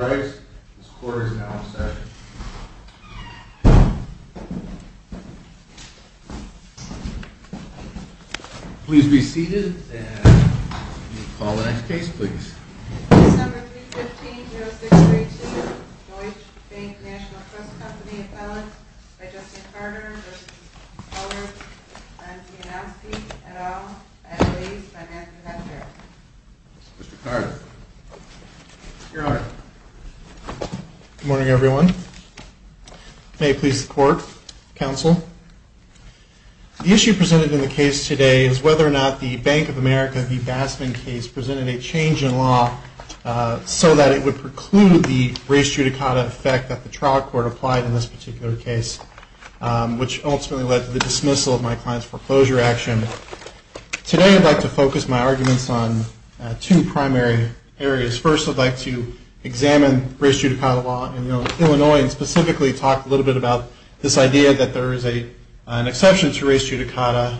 Mr. Carter, this quarter is now in session. Please be seated and call the next case, please. Case No. 315-0632, Deutsche Bank National Trust Co. v. Bellex v. Justin Carter v. Colbert v. Bodzianowski, et al. Mr. Carter, you're on. Good morning, everyone. May it please the Court, Counsel. The issue presented in the case today is whether or not the Bank of America v. Basman case presented a change in law so that it would preclude the res judicata effect that the trial court applied in this particular case, which ultimately led to the dismissal of my client's foreclosure action. Today I'd like to focus my arguments on two primary areas. First, I'd like to examine res judicata law in Illinois and specifically talk a little bit about this idea that there is an exception to res judicata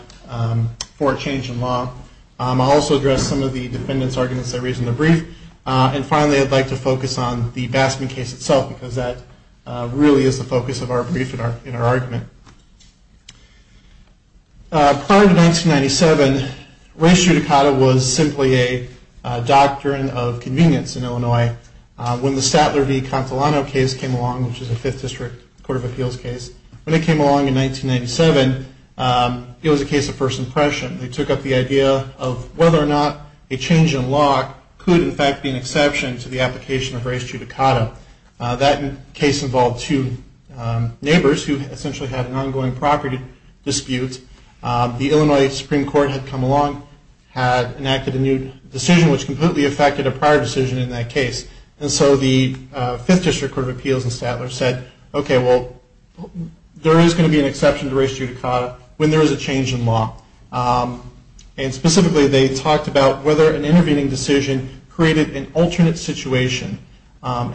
for a change in law. I'll also address some of the defendant's arguments I raised in the brief. And finally, I'd like to focus on the Basman case itself because that really is the focus of our brief and our argument. Prior to 1997, res judicata was simply a doctrine of convenience in Illinois. When the Statler v. Consolano case came along, which is a Fifth District Court of Appeals case, when it came along in 1997, it was a case of first impression. They took up the idea of whether or not a change in law could in fact be an exception to the application of res judicata. That case involved two neighbors who essentially had an ongoing property dispute. The Illinois Supreme Court had come along, had enacted a new decision, which completely affected a prior decision in that case. And so the Fifth District Court of Appeals and Statler said, okay, well, there is going to be an exception to res judicata when there is a change in law. And specifically they talked about whether an intervening decision created an alternate situation.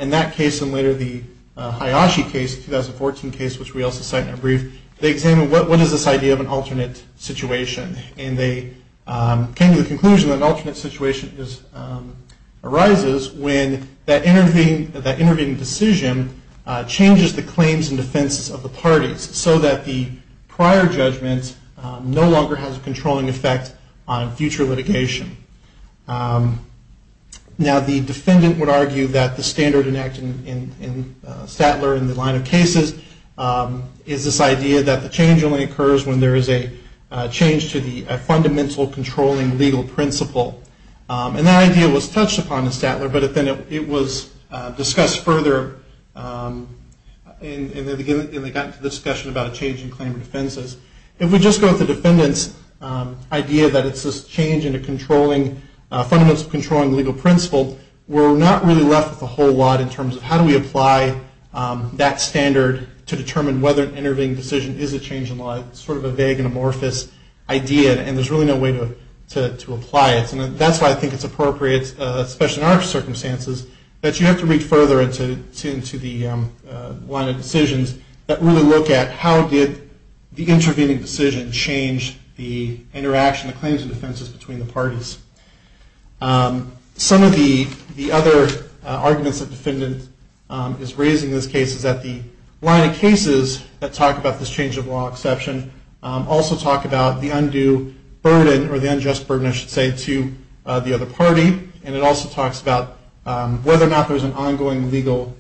In that case and later the Hayashi case, the 2014 case, which we also cite in our brief, they examined what is this idea of an alternate situation. And they came to the conclusion that an alternate situation arises when that intervening decision changes the claims and defenses of the parties so that the prior judgment no longer has a controlling effect on future litigation. Now the defendant would argue that the standard enacted in Statler in the line of cases is this idea that the change only occurs when there is a change to the fundamental controlling legal principle. And that idea was touched upon in Statler, but then it was discussed further in the discussion about a change in claim and defenses. If we just go with the defendant's idea that it's this change in a controlling, fundamental controlling legal principle, we're not really left with a whole lot in terms of how do we apply that standard to determine whether an intervening decision is a change in law. It's sort of a vague and amorphous idea, and there's really no way to apply it. And that's why I think it's appropriate, especially in our circumstances, that you have to read further into the line of decisions that really look at how did the intervening decision change the interaction, the claims and defenses between the parties. Some of the other arguments that the defendant is raising in this case is that the line of cases that talk about this change of law exception also talk about the undue burden, or the unjust burden, I should say, to the other party. And it also talks about whether or not there's an ongoing legal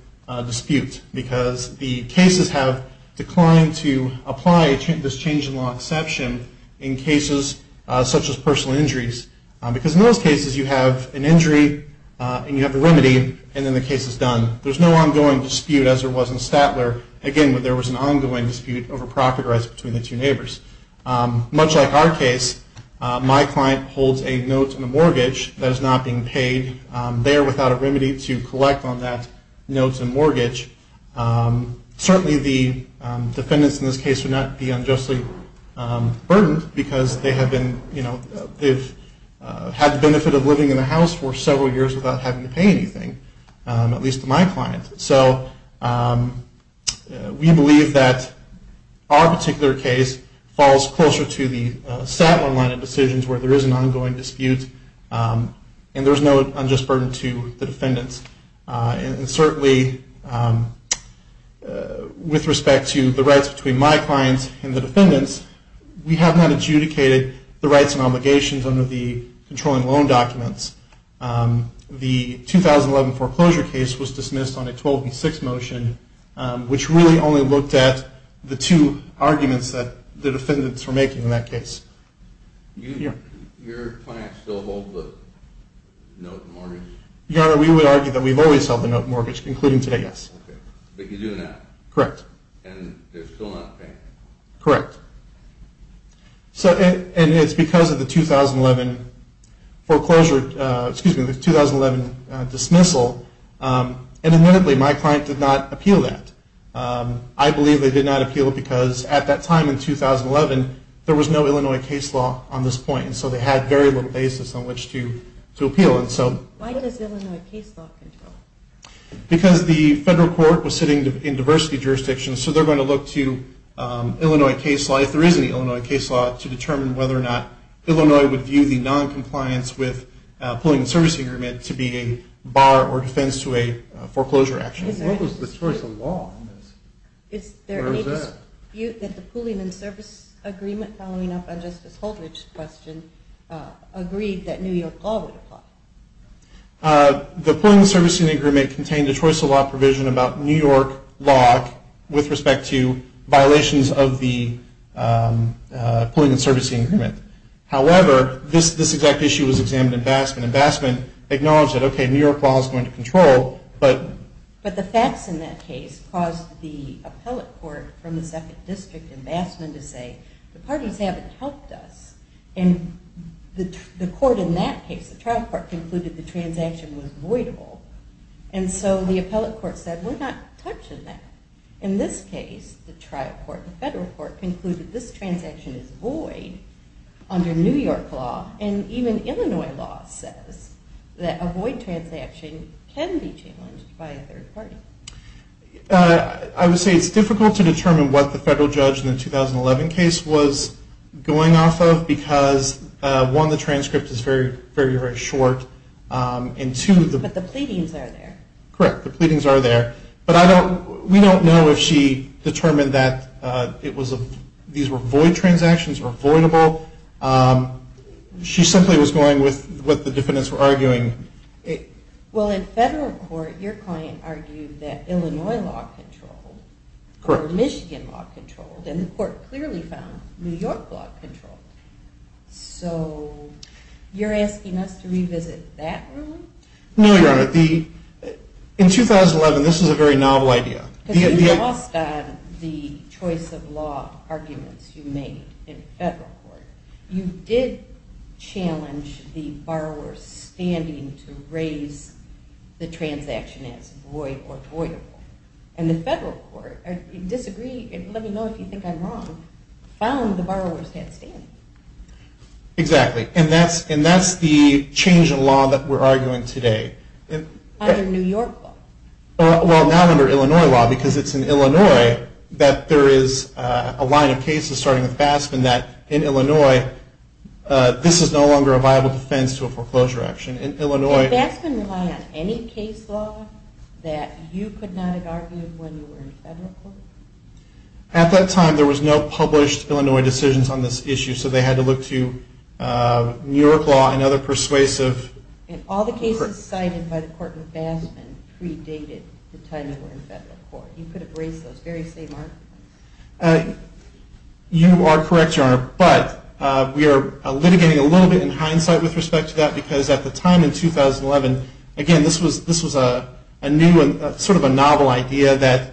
dispute because the cases have declined to apply this change in law exception in cases such as personal injuries. Because in those cases, you have an injury, and you have a remedy, and then the case is done. There's no ongoing dispute as there was in Statler, again, where there was an ongoing dispute over property rights between the two neighbors. Much like our case, my client holds a note in a mortgage that is not being paid. They are without a remedy to collect on that note in a mortgage. Certainly the defendants in this case would not be unjustly burdened because they've had the benefit of living in a house for several years without having to pay anything, at least to my client. So we believe that our particular case falls closer to the Statler line of decisions where there is an ongoing dispute, and there's no unjust burden to the defendants. And certainly with respect to the rights between my clients and the defendants, we have not adjudicated the rights and obligations under the controlling loan documents. The 2011 foreclosure case was dismissed on a 12-6 motion, which really only looked at the two arguments that the defendants were making in that case. Your client still holds the note in mortgage? Your Honor, we would argue that we've always held the note in mortgage, including today, yes. But you do now? Correct. And they're still not paying? Correct. And it's because of the 2011 foreclosure, excuse me, the 2011 dismissal, and admittedly, my client did not appeal that. I believe they did not appeal it because at that time in 2011, there was no Illinois case law on this point, and so they had very little basis on which to appeal. Why does Illinois case law control? Because the federal court was sitting in diversity jurisdictions, so they're going to look to Illinois case law, if there is any Illinois case law, to determine whether or not Illinois would view the noncompliance with pooling and servicing agreement to be a bar or defense to a foreclosure action. What was the choice of law on this? Is there any dispute that the pooling and service agreement, following up on Justice Holdridge's question, agreed that New York law would apply? The pooling and servicing agreement contained a choice of law provision about New York law with respect to violations of the pooling and servicing agreement. However, this exact issue was examined in Basman, and Basman acknowledged that, okay, New York law is going to control, but... But the facts in that case caused the appellate court from the 2nd District in Basman to say, the parties haven't helped us, and the court in that case, the trial court, concluded the transaction was voidable, and so the appellate court said, we're not touching that. In this case, the trial court, the federal court, concluded this transaction is void under New York law, and even Illinois law says that a void transaction can be challenged by a third party. I would say it's difficult to determine what the federal judge in the 2011 case was going off of, because, one, the transcript is very, very short, and two... But the pleadings are there. Correct. The pleadings are there. But we don't know if she determined that these were void transactions or voidable. She simply was going with what the defendants were arguing. Well, in federal court, your client argued that Illinois law controlled, or Michigan law controlled, and the court clearly found New York law controlled. So you're asking us to revisit that ruling? No, Your Honor. In 2011, this was a very novel idea. Because you lost on the choice of law arguments you made in federal court. You did challenge the borrower's standing to raise the transaction as void or voidable, and the federal court disagreed, and let me know if you think I'm wrong, found the borrower's head standing. Exactly. And that's the change in law that we're arguing today. Under New York law. Well, now under Illinois law, because it's in Illinois that there is a line of cases, starting with Baskin, that in Illinois, this is no longer a viable defense to a foreclosure action. Did Baskin rely on any case law that you could not have argued when you were in federal court? At that time, there was no published Illinois decisions on this issue, so they had to look to New York law and other persuasive. And all the cases cited by the court with Baskin predated the time you were in federal court. You could have raised those very same arguments. You are correct, Your Honor. But we are litigating a little bit in hindsight with respect to that, because at the time in 2011, again, this was a new and sort of a novel idea that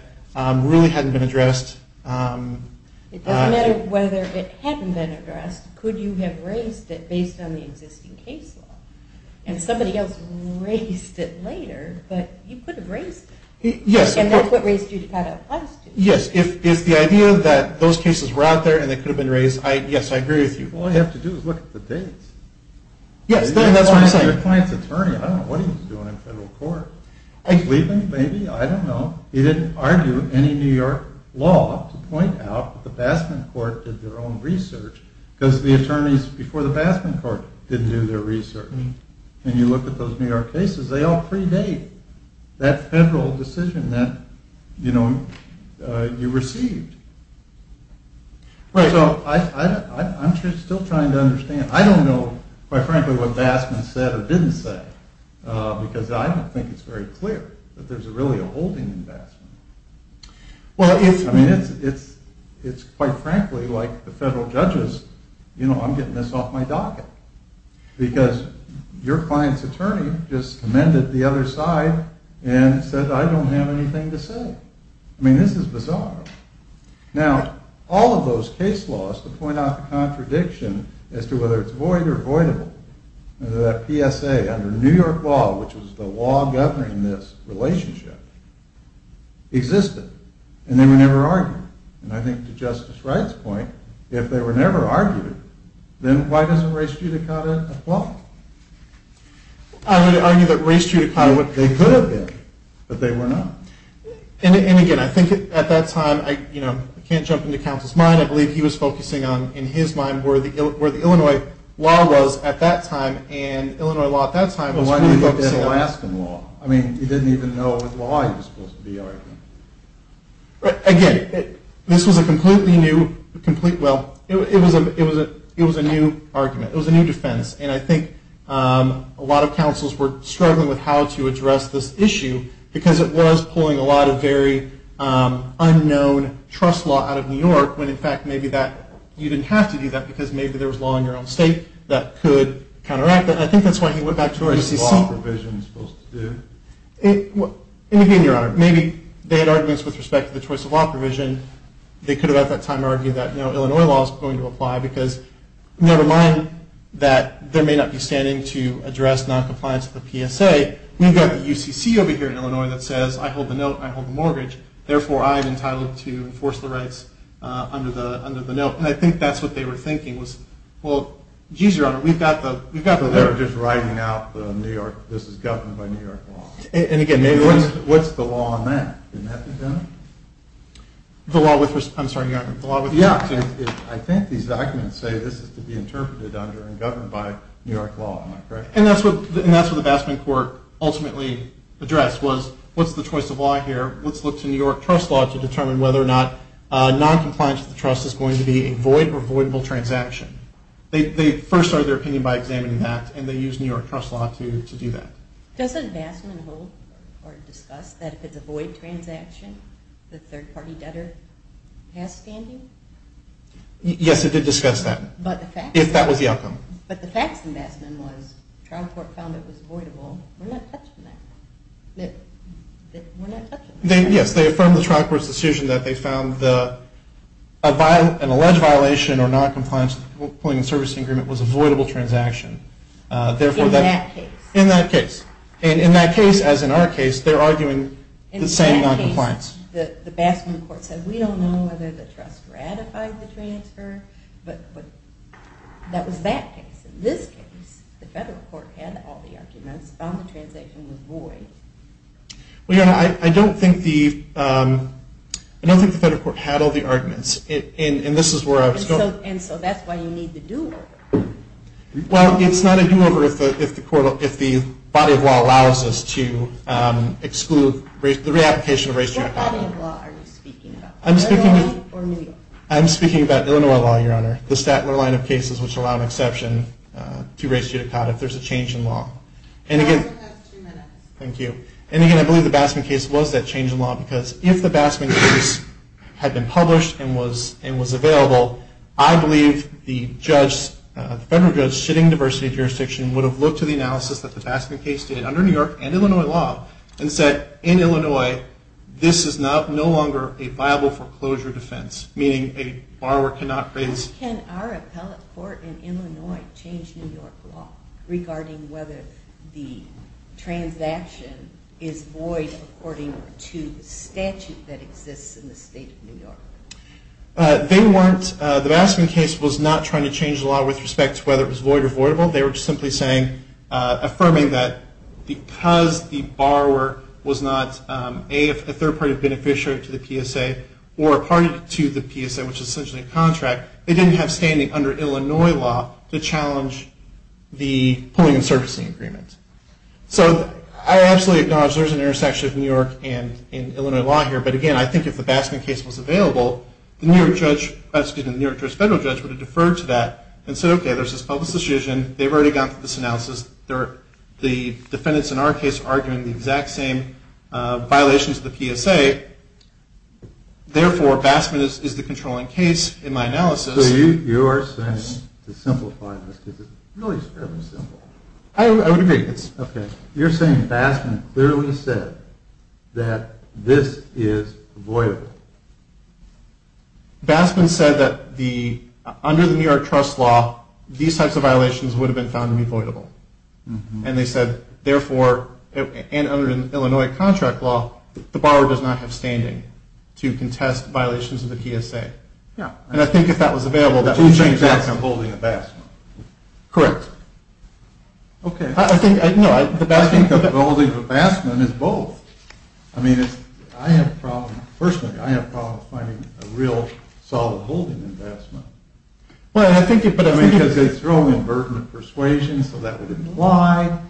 really hadn't been addressed. It doesn't matter whether it hadn't been addressed. Could you have raised it based on the existing case law? And somebody else raised it later, but you could have raised it. Yes. And that's what raised you to file a lawsuit. Yes, if the idea that those cases were out there and they could have been raised, yes, I agree with you. All you have to do is look at the dates. Yes, that's what I'm saying. Your client's attorney, I don't know what he was doing in federal court. I don't know. He didn't argue any New York law to point out that the Baskin court did their own research, because the attorneys before the Baskin court didn't do their research. And you look at those New York cases, they all predate that federal decision that you received. So I'm still trying to understand. I don't know, quite frankly, what Baskin said or didn't say, because I don't think it's very clear that there's really a holding in Baskin. I mean, it's quite frankly like the federal judges, you know, I'm getting this off my docket, because your client's attorney just amended the other side and said, I don't have anything to say. I mean, this is bizarre. Now, all of those case laws to point out the contradiction as to whether it's void or voidable, that PSA under New York law, which was the law governing this relationship, existed, and they were never argued. And I think to Justice Wright's point, if they were never argued, then why doesn't race judicata apply? I would argue that race judicata, they could have been, but they were not. And again, I think at that time, you know, I can't jump into counsel's mind. I believe he was focusing on, in his mind, where the Illinois law was at that time, and Illinois law at that time was really focusing on... Well, why didn't he look at Alaskan law? I mean, he didn't even know what law he was supposed to be arguing. Again, this was a completely new, well, it was a new argument. It was a new defense. And I think a lot of counsels were struggling with how to address this issue, because it was pulling a lot of very unknown trust law out of New York, when, in fact, maybe you didn't have to do that, because maybe there was law in your own state that could counteract that. And I think that's why he went back to UCC. What was the law provision supposed to do? And again, Your Honor, maybe they had arguments with respect to the choice of law provision. They could have, at that time, argued that no, Illinois law is going to apply, because never mind that there may not be standing to address noncompliance with the PSA. We've got the UCC over here in Illinois that says, I hold the note, I hold the mortgage, therefore I am entitled to enforce the rights under the note. And I think that's what they were thinking was, well, geez, Your Honor, we've got the... So they were just writing out, this is governed by New York law. And again, what's the law on that? Didn't that be done? The law with respect to... I'm sorry, Your Honor, the law with respect to... Yeah, I think these documents say this is to be interpreted under and governed by New York law. Am I correct? And that's what the Bassman court ultimately addressed was, what's the choice of law here? Let's look to New York trust law to determine whether or not noncompliance with the trust is going to be a void or voidable transaction. They first started their opinion by examining that, and they used New York trust law to do that. Doesn't Bassman hold or discuss that if it's a void transaction, the third-party debtor has standing? Yes, it did discuss that. But the facts... If that was the outcome. But the facts in Bassman was, trial court found it was voidable. We're not touching that. We're not touching that. Yes, they affirmed the trial court's decision that they found an alleged violation or noncompliance with the employment and servicing agreement was a voidable transaction. In that case. In that case. And in that case, as in our case, they're arguing the same noncompliance. In that case, the Bassman court said, we don't know whether the trust ratified the transfer, but that was that case. In this case, the federal court had all the arguments, found the transaction was void. Well, your Honor, I don't think the federal court had all the arguments. And this is where I was going... And so that's why you need the do-over. Well, it's not a do-over if the body of law allows us to exclude the re-application of race-gender equality. What body of law are you speaking about? Illinois or New York? I'm speaking about Illinois law, your Honor. The Statler line of cases, which allow an exception to race judicata if there's a change in law. And again... Your time has two minutes. Thank you. And again, I believe the Bassman case was that change in law, because if the Bassman case had been published and was available, I believe the judge, the federal judge sitting in the diversity jurisdiction, would have looked to the analysis that the Bassman case did under New York and Illinois law and said, in Illinois, this is no longer a viable foreclosure defense, meaning a borrower cannot raise... Can our appellate court in Illinois change New York law regarding whether the transaction is void according to the statute that exists in the state of New York? They weren't... The Bassman case was not trying to change the law with respect to whether it was void or voidable. They were simply saying... Affirming that because the borrower was not a third-party beneficiary to the PSA or a party to the PSA, which is essentially a contract, they didn't have standing under Illinois law to challenge the pulling and surfacing agreement. So I absolutely acknowledge there's an intersection of New York and Illinois law here, but again, I think if the Bassman case was available, the New York judge... Excuse me, the New York judge, the federal judge would have deferred to that and said, okay, there's this public decision. They've already gone through this analysis. The defendants in our case are arguing the exact same violations of the PSA. Therefore, Bassman is the controlling case in my analysis. So you are saying, to simplify this, because it's really fairly simple... I would agree. Okay. You're saying Bassman clearly said that this is voidable. Bassman said that under the New York trust law, these types of violations would have been found to be voidable. And they said, therefore, and under Illinois contract law, the borrower does not have standing to contest violations of the PSA. Yeah. And I think if that was available, that would change the act of holding the Bassman. Correct. Okay. I think... I think the holding of the Bassman is both. I mean, I have a problem. Personally, I have a problem finding a real solid holding in Bassman. Well, I think... Because they throw in burden of persuasion, so that would imply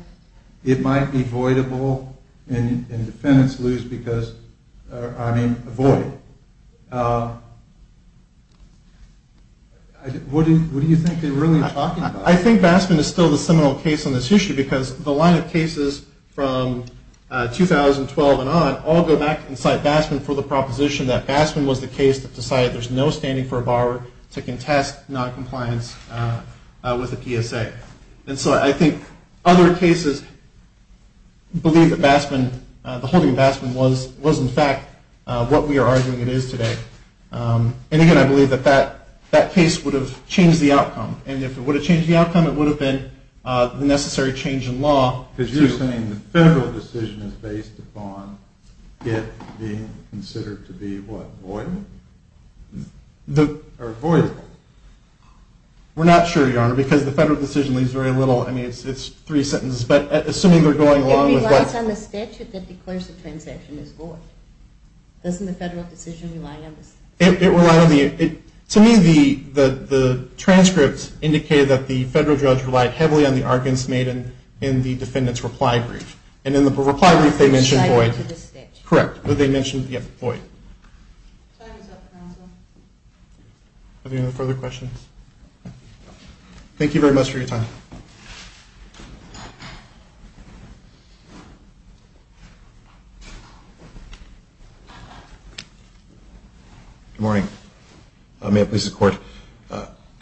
it might be voidable and defendants lose because, I mean, avoid it. What do you think they're really talking about? I think Bassman is still the seminal case on this issue because the line of cases from 2012 and on all go back and cite Bassman for the proposition that Bassman was the case that decided there's no standing for a borrower to contest noncompliance with the PSA. And so I think other cases believe that Bassman, the holding of Bassman was, in fact, what we are arguing it is today. And, again, I believe that that case would have changed the outcome. And if it would have changed the outcome, it would have been the necessary change in law. Because you're saying the federal decision is based upon it being considered to be what, voidable? Or avoidable. We're not sure, Your Honor, because the federal decision leaves very little. I mean, it's three sentences, but assuming they're going along with what... It relies on the statute that declares the transaction is void. Doesn't the federal decision rely on the statute? It relies on the... To me, the transcripts indicate that the federal judge relied heavily on the arguments made in the defendant's reply brief. And in the reply brief, they mentioned void. Correct. But they mentioned, yes, void. Time is up, counsel. Are there any further questions? Thank you very much for your time. Good morning. May it please the Court.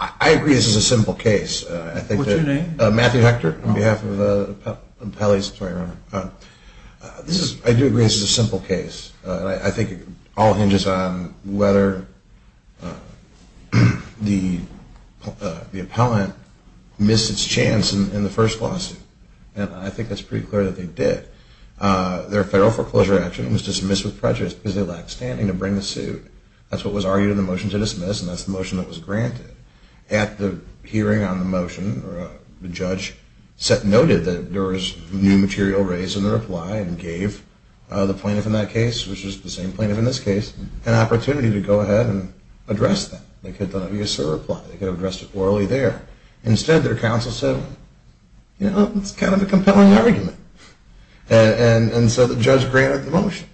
I agree this is a simple case. What's your name? Matthew Hector, on behalf of the appellate... I'm sorry, Your Honor. I do agree this is a simple case. I think it all hinges on whether the appellant missed its chance in the first lawsuit. And I think it's pretty clear that they did. Their federal foreclosure action was dismissed with prejudice because they lacked standing to bring the suit. That's what was argued in the motion to dismiss, and that's the motion that was granted. At the hearing on the motion, the judge noted that there was new material raised in the reply and gave the plaintiff in that case, which was the same plaintiff in this case, an opportunity to go ahead and address that. They could have done it via serve reply. They could have addressed it orally there. Instead, their counsel said, you know, it's kind of a compelling argument. And so the judge granted the motion.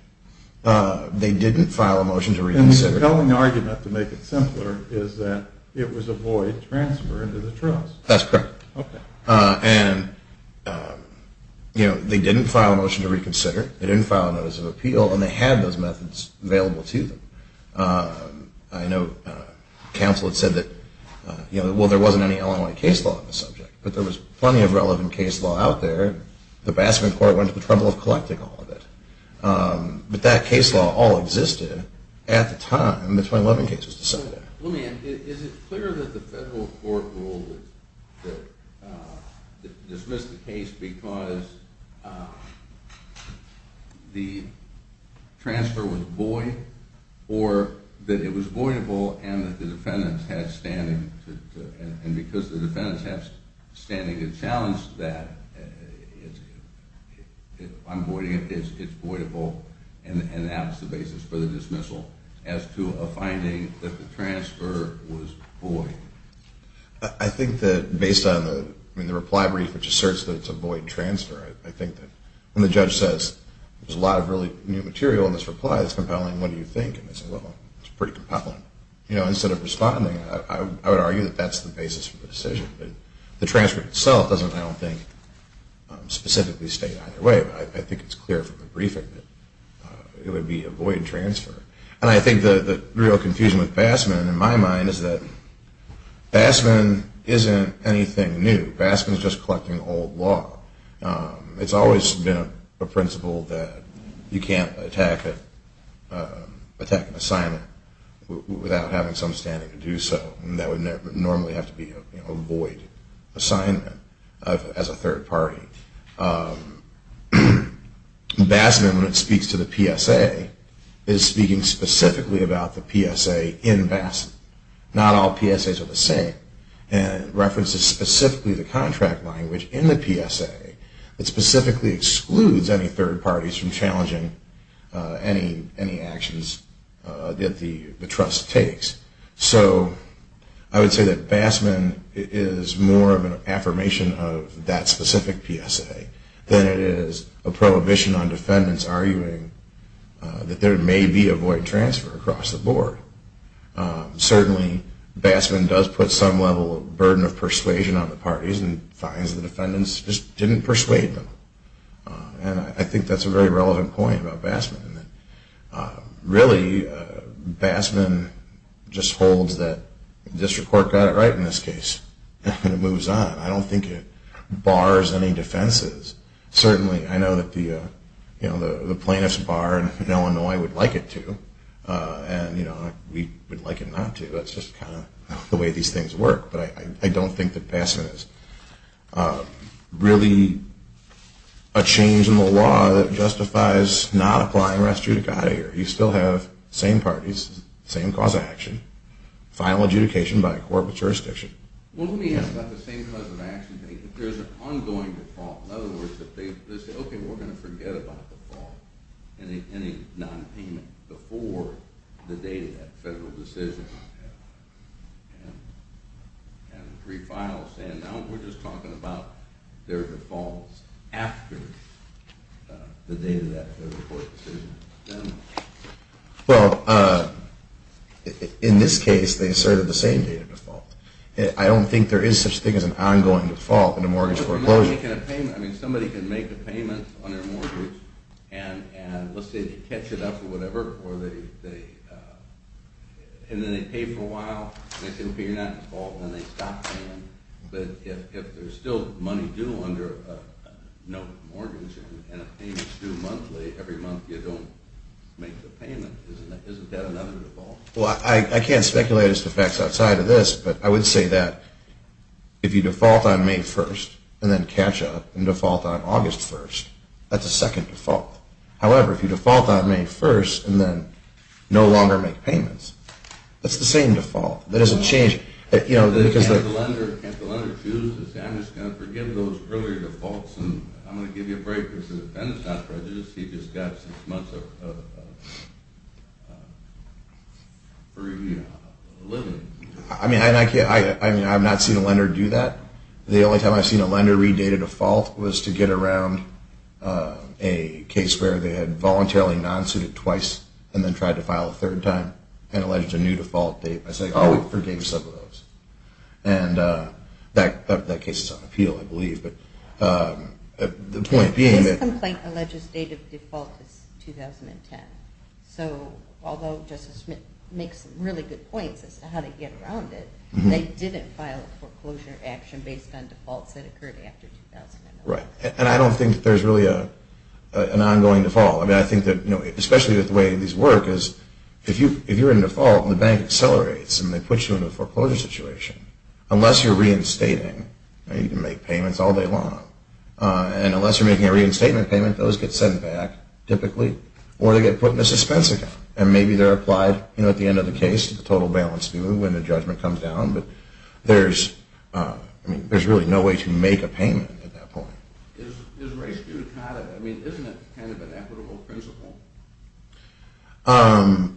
They didn't file a motion to reconsider. And the compelling argument, to make it simpler, is that it was a void transfer into the trust. That's correct. Okay. And, you know, they didn't file a motion to reconsider. They didn't file a notice of appeal. And they had those methods available to them. I know counsel had said that, you know, well, there wasn't any Illinois case law on the subject. But there was plenty of relevant case law out there. The Basket Court went to the trouble of collecting all of it. But that case law all existed at the time the 2011 case was decided. Let me ask, is it clear that the federal court ruled to dismiss the case because the transfer was void or that it was voidable and that the defendants had standing to – and because the defendants have standing to challenge that, it's voidable and that's the basis for the dismissal as to a finding that the transfer was void? I think that based on the reply brief, which asserts that it's a void transfer, I think that when the judge says there's a lot of really new material in this reply that's compelling, what do you think? And they say, well, it's pretty compelling. You know, instead of responding, I would argue that that's the basis for the decision. The transfer itself doesn't, I don't think, specifically state either way. I think it's clear from the briefing that it would be a void transfer. And I think the real confusion with Bassman, in my mind, is that Bassman isn't anything new. Bassman is just collecting old law. It's always been a principle that you can't attack an assignment without having some standing to do so. That would normally have to be a void assignment as a third party. Bassman, when it speaks to the PSA, is speaking specifically about the PSA in Bassman. Not all PSAs are the same. And it references specifically the contract language in the PSA that specifically excludes any third parties from challenging any actions that the trust takes. So I would say that Bassman is more of an affirmation of that specific PSA than it is a prohibition on defendants arguing that there may be a void transfer across the board. Certainly, Bassman does put some level of burden of persuasion on the parties and finds the defendants just didn't persuade them. And I think that's a very relevant point about Bassman. Really, Bassman just holds that the district court got it right in this case. And it moves on. I don't think it bars any defenses. Certainly, I know that the plaintiff's bar in Illinois would like it to. And we would like it not to. That's just kind of the way these things work. But I don't think that Bassman is really a change in the law that justifies not applying rest judicata here. You still have same parties, same cause of action, final adjudication by a corporate jurisdiction. Well, let me ask about the same cause of action. There's an ongoing default. In other words, they say, okay, we're going to forget about the default and any nonpayment before the date of that federal decision. And three files saying, no, we're just talking about their defaults after the date of that federal court decision. Well, in this case, they asserted the same date of default. I don't think there is such a thing as an ongoing default in a mortgage foreclosure. I mean, somebody can make a payment on their mortgage and let's say they catch it up or whatever and then they pay for a while and they say, okay, you're not in default and then they stop paying. But if there's still money due under a mortgage and a payment is due monthly, every month you don't make the payment. Isn't that another default? Well, I can't speculate as to facts outside of this, but I would say that if you default on May 1st and then catch up and default on August 1st, that's a second default. However, if you default on May 1st and then no longer make payments, that's the same default. That doesn't change. Can't the lender choose? I'm just going to forgive those earlier defaults and I'm going to give you a break because the defendant is not prejudiced. He just got six months of free living. I mean, I've not seen a lender do that. The only time I've seen a lender re-date a default was to get around a case where they had voluntarily non-suited twice and then tried to file a third time and alleged a new default date. I say, oh, we forgive some of those. And that case is on appeal, I believe. But the point being that – This complaint alleges date of default is 2010. So although Justice Smith makes some really good points as to how to get around it, they didn't file a foreclosure action based on defaults that occurred after 2010. Right. And I don't think there's really an ongoing default. I mean, I think that especially the way these work is if you're in default, the bank accelerates and they put you in a foreclosure situation. Unless you're reinstating, you can make payments all day long. And unless you're making a reinstatement payment, those get sent back typically or they get put in a suspense again. And maybe they're applied at the end of the case, the total balance when the judgment comes down. But there's really no way to make a payment at that point. Isn't it kind of an equitable principle? I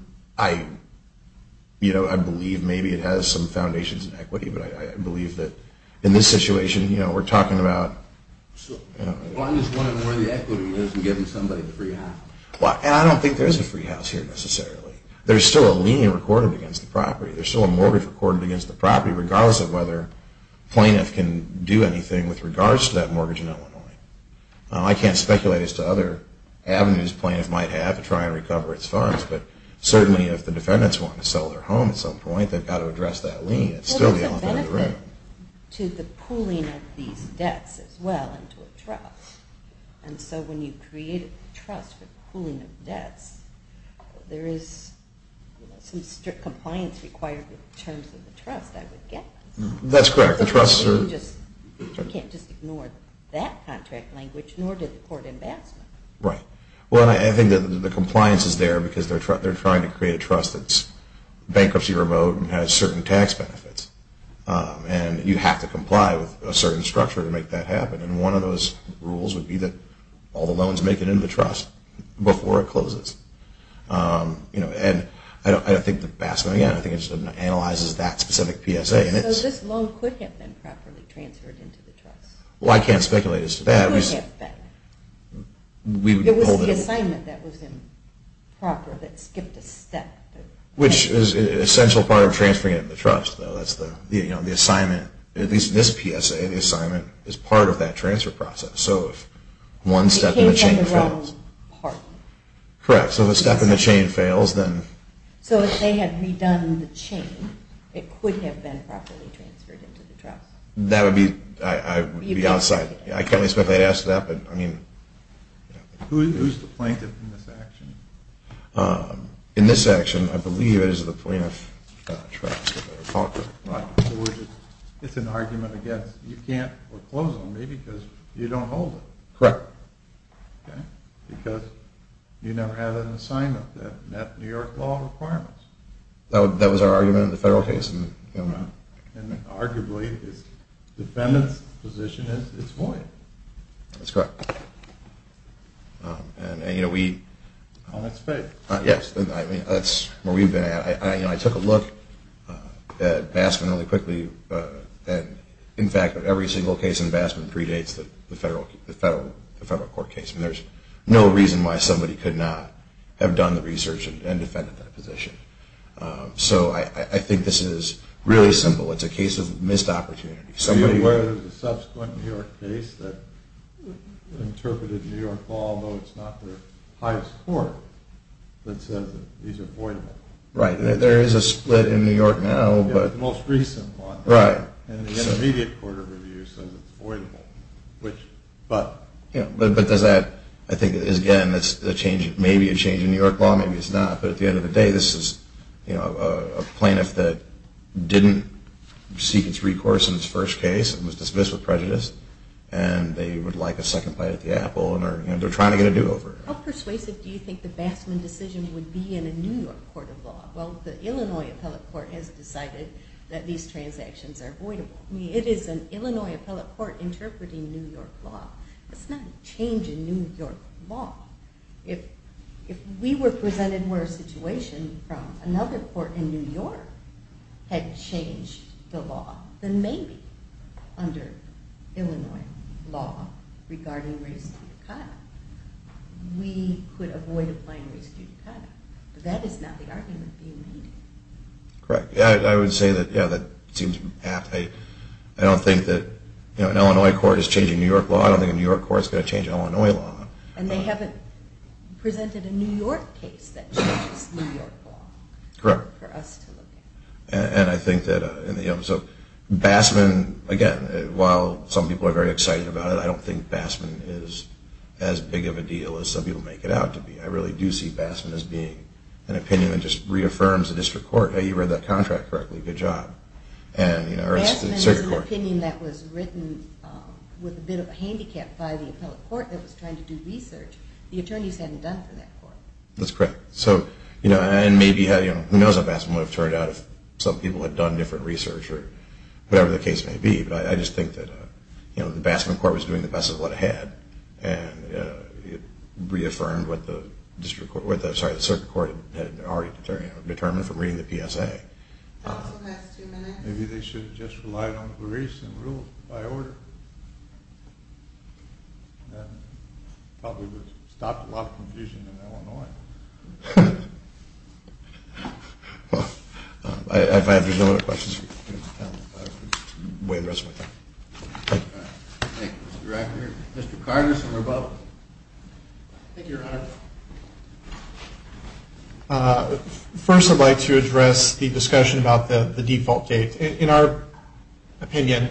believe maybe it has some foundations in equity, but I believe that in this situation we're talking about – Well, I'm just wondering where the equity is in giving somebody the free house. And I don't think there's a free house here necessarily. There's still a lien recorded against the property. There's still a mortgage recorded against the property regardless of whether plaintiff can do anything with regards to that mortgage in Illinois. I can't speculate as to other avenues plaintiff might have to try and recover its funds, but certainly if the defendants want to sell their home at some point, they've got to address that lien. It's still the only thing in the room. Well, there's a benefit to the pooling of these debts as well and to a trust. And so when you create a trust for pooling of debts, there is some strict compliance required in terms of the trust, I would guess. That's correct. You can't just ignore that contract language, nor did the court ambassador. Right. Well, I think the compliance is there because they're trying to create a trust that's bankruptcy remote and has certain tax benefits. And you have to comply with a certain structure to make that happen. And one of those rules would be that all the loans make it into the trust before it closes. And I don't think the BASMA, again, I think it just analyzes that specific PSA. So this loan could have been properly transferred into the trust? Well, I can't speculate as to that. It was the assignment that was improper that skipped a step. Which is an essential part of transferring it into the trust, though. At least in this PSA, the assignment is part of that transfer process. So if one step in the chain fails. Correct. So if a step in the chain fails, then. So if they had redone the chain, it could have been properly transferred into the trust? That would be outside. I can't really speculate as to that, but I mean. Who is the plaintiff in this action? In this action, I believe it is the plaintiff. It's an argument against you can't foreclose on me because you don't hold it. Correct. Because you never had an assignment that met New York law requirements. That was our argument in the federal case. And arguably, the defendant's position is void. That's correct. That's where we've been at. I took a look at Bassman really quickly. In fact, every single case in Bassman predates the federal court case. There's no reason why somebody could not have done the research and defended that position. So I think this is really simple. It's a case of missed opportunity. You're aware there's a subsequent New York case that interpreted New York law, though it's not the highest court, that says that these are voidable. Right. There is a split in New York now. The most recent one. Right. And the intermediate court of review says it's voidable. But does that, I think, again, that's maybe a change in New York law, maybe it's not. But at the end of the day, this is a plaintiff that didn't seek its recourse in its first case and was dismissed with prejudice, and they would like a second bite at the apple, and they're trying to get a do-over. How persuasive do you think the Bassman decision would be in a New York court of law? Well, the Illinois appellate court has decided that these transactions are voidable. I mean, it is an Illinois appellate court interpreting New York law. That's not a change in New York law. If we were presented with a situation from another court in New York had changed the law, then maybe under Illinois law regarding race due to cut, we could avoid applying race due to cut. But that is not the argument being made. Correct. I would say that, yeah, that seems apt. I don't think that an Illinois court is changing New York law. I don't think a New York court is going to change an Illinois law. And they haven't presented a New York case that changes New York law. Correct. For us to look at. And I think that, you know, so Bassman, again, while some people are very excited about it, I don't think Bassman is as big of a deal as some people make it out to be. I really do see Bassman as being an opinion that just reaffirms the district court, hey, you read that contract correctly, good job. Bassman is an opinion that was written with a bit of a handicap by the appellate court that was trying to do research. The attorneys hadn't done for that court. That's correct. So, you know, and maybe, you know, who knows how Bassman would have turned out if some people had done different research or whatever the case may be. But I just think that, you know, the Bassman court was doing the best of what it had. And it reaffirmed what the circuit court had already determined from reading the PSA. Maybe they should have just relied on Glorese and ruled by order. That probably would have stopped a lot of confusion in Illinois. Well, if there's no other questions, I'll weigh the rest of my time. Thank you. Thank you, Mr. Director. Mr. Carter, somewhere above. Thank you, Your Honor. First, I'd like to address the discussion about the default date. In our opinion,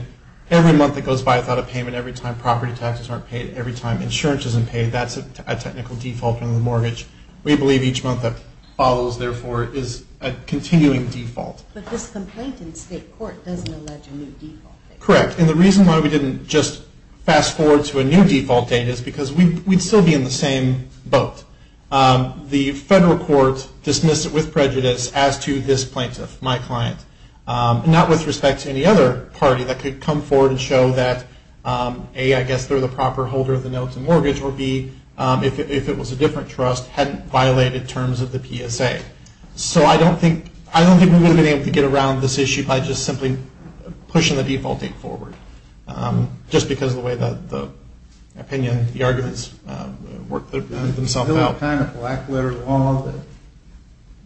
every month that goes by without a payment, every time property taxes aren't paid, every time insurance isn't paid, that's a technical default in the mortgage. We believe each month that follows, therefore, is a continuing default. But this complaint in state court doesn't allege a new default date. Correct. And the reason why we didn't just fast forward to a new default date is because we'd still be in the same boat. The federal court dismissed it with prejudice as to this plaintiff, my client, not with respect to any other party that could come forward and show that, A, I guess they're the proper holder of the notes in mortgage, or B, if it was a different trust, hadn't violated terms of the PSA. So I don't think we would have been able to get around this issue by just simply pushing the default date forward, just because of the way that the opinion, the arguments worked themselves out. There's a kind of black letter law that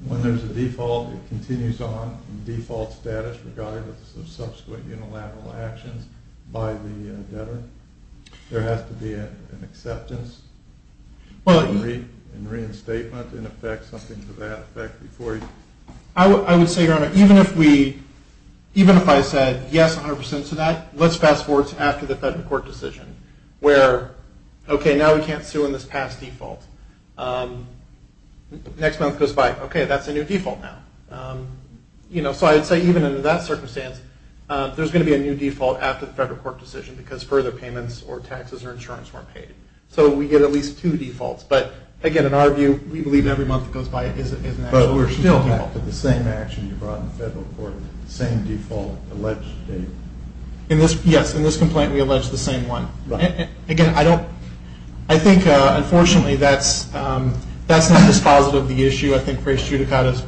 when there's a default, it continues on in default status regardless of subsequent unilateral actions by the debtor. There has to be an acceptance and reinstatement in effect, something to that effect before you. I would say, Your Honor, even if I said yes 100% to that, let's fast forward to after the federal court decision, where, okay, now we can't sue in this past default. Next month goes by, okay, that's a new default now. So I would say even under that circumstance, there's going to be a new default after the federal court decision because further payments or taxes or insurance weren't paid. So we get at least two defaults. But, again, in our view, we believe every month that goes by is an actual default. But we're still back to the same action you brought in the federal court, same default alleged date. Yes, in this complaint we allege the same one. Again, I think, unfortunately, that's not dispositive of the issue. I think race judicata,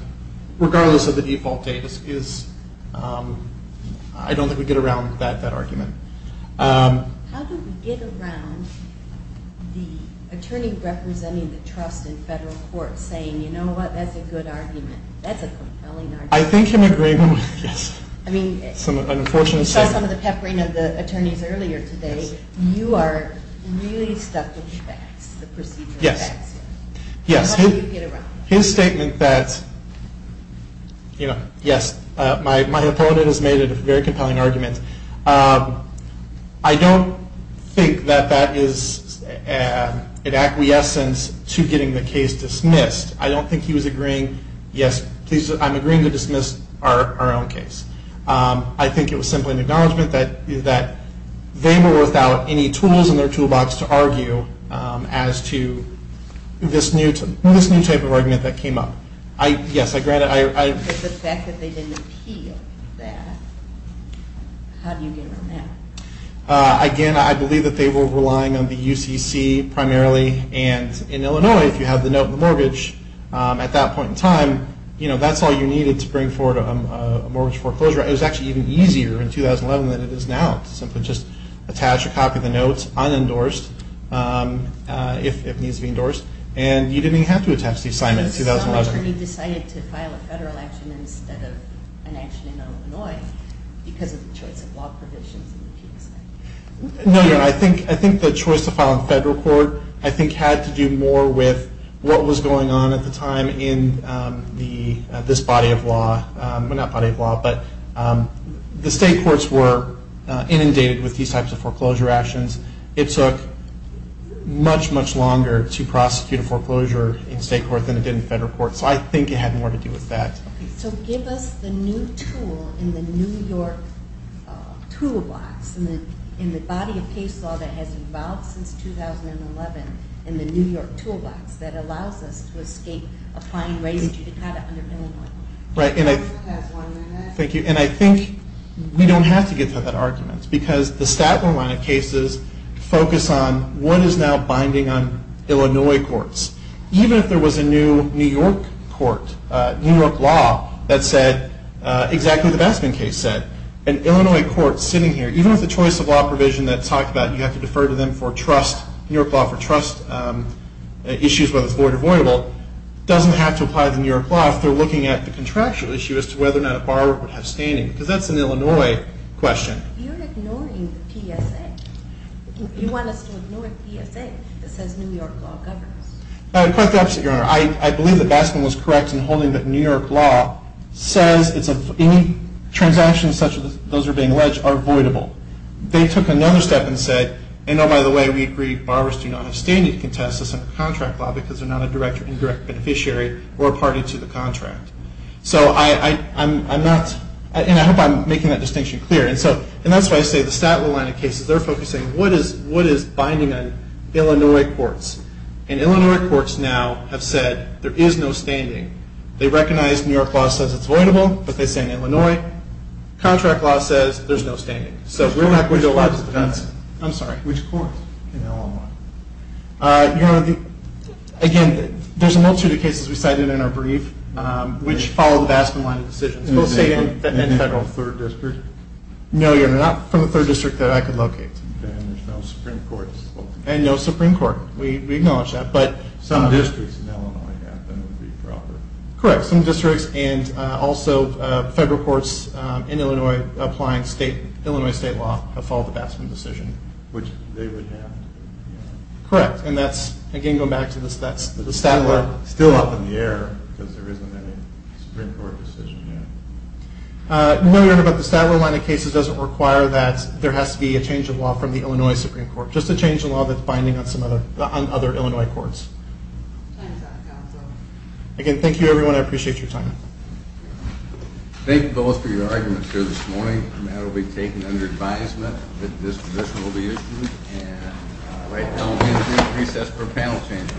regardless of the default date, I don't think we get around that argument. How do we get around the attorney representing the trust in federal court saying, you know what, that's a good argument, that's a compelling argument? I think in agreement with, yes. I mean, you saw some of the peppering of the attorneys earlier today. You are really stuck with facts, the procedural facts. Yes, yes. How do you get around that? His statement that, you know, yes, my opponent has made a very compelling argument. I don't think that that is an acquiescence to getting the case dismissed. I don't think he was agreeing, yes, please, I'm agreeing to dismiss our own case. I think it was simply an acknowledgment that they were without any tools in their toolbox to argue as to this new type of argument that came up. Yes, I grant it. The fact that they didn't appeal that, how do you get around that? Again, I believe that they were relying on the UCC primarily, and in Illinois if you have the note of the mortgage at that point in time, you know, that's all you needed to bring forward a mortgage foreclosure. It was actually even easier in 2011 than it is now to simply just attach a copy of the notes unendorsed if it needs to be endorsed, and you didn't even have to attach the assignment in 2011. So the attorney decided to file a federal action instead of an action in Illinois because of the choice of law provisions in the PSA? No, no, I think the choice to file a federal court I think had to do more with what was going on at the time in this body of law. Well, not body of law, but the state courts were inundated with these types of foreclosure actions. It took much, much longer to prosecute a foreclosure in state court than it did in federal court, so I think it had more to do with that. So give us the new tool in the New York toolbox, in the body of case law that has evolved since 2011 in the New York toolbox that allows us to escape applying race judicata under Illinois law. Right, and I think we don't have to get to that argument because the Statlin line of cases focus on what is now binding on Illinois courts. Even if there was a new New York court, New York law, that said exactly what the Baskin case said, an Illinois court sitting here, even with the choice of law provision that talked about you have to defer to them for trust, New York law for trust issues, whether it's void or avoidable, doesn't have to apply the New York law if they're looking at the contractual issue as to whether or not a borrower would have standing, because that's an Illinois question. You're ignoring the PSA. You want us to ignore the PSA that says New York law governs. Quite the opposite, Your Honor. I believe that Baskin was correct in holding that New York law says any transactions such as those that are being alleged are voidable. They took another step and said, and oh, by the way, we agree, borrowers do not have standing to contest this under contract law because they're not a direct or indirect beneficiary or a party to the contract. So I'm not, and I hope I'm making that distinction clear. And that's why I say the Statlin line of cases, they're focusing on what is binding on Illinois courts. And Illinois courts now have said there is no standing. They recognize New York law says it's voidable, but they say in Illinois. Contract law says there's no standing. So we're not going to allow this defense. I'm sorry. Which courts in Illinois? Your Honor, again, there's a multitude of cases we cited in our brief which follow the Baskin line of decisions. Both state and federal. Federal third district? No, Your Honor. Not from the third district that I could locate. Then there's no Supreme Court. And no Supreme Court. We acknowledge that. Some districts in Illinois have them. It would be proper. Correct. Some districts and also federal courts in Illinois applying Illinois state law have followed the Baskin decision. Which they would have to. Correct. And that's, again, going back to the Statlin. Still up in the air because there isn't any Supreme Court decision yet. What we learned about the Statlin line of cases doesn't require that there has to be a change of law from the Illinois Supreme Court. Just a change of law that's binding on some other Illinois courts. Time's up, counsel. Again, thank you, everyone. I appreciate your time. Thank you both for your arguments here this morning. The matter will be taken under advisement that this position will be issued. And right now we'll be in recess for a panel change. Thank you. Thank you, sir.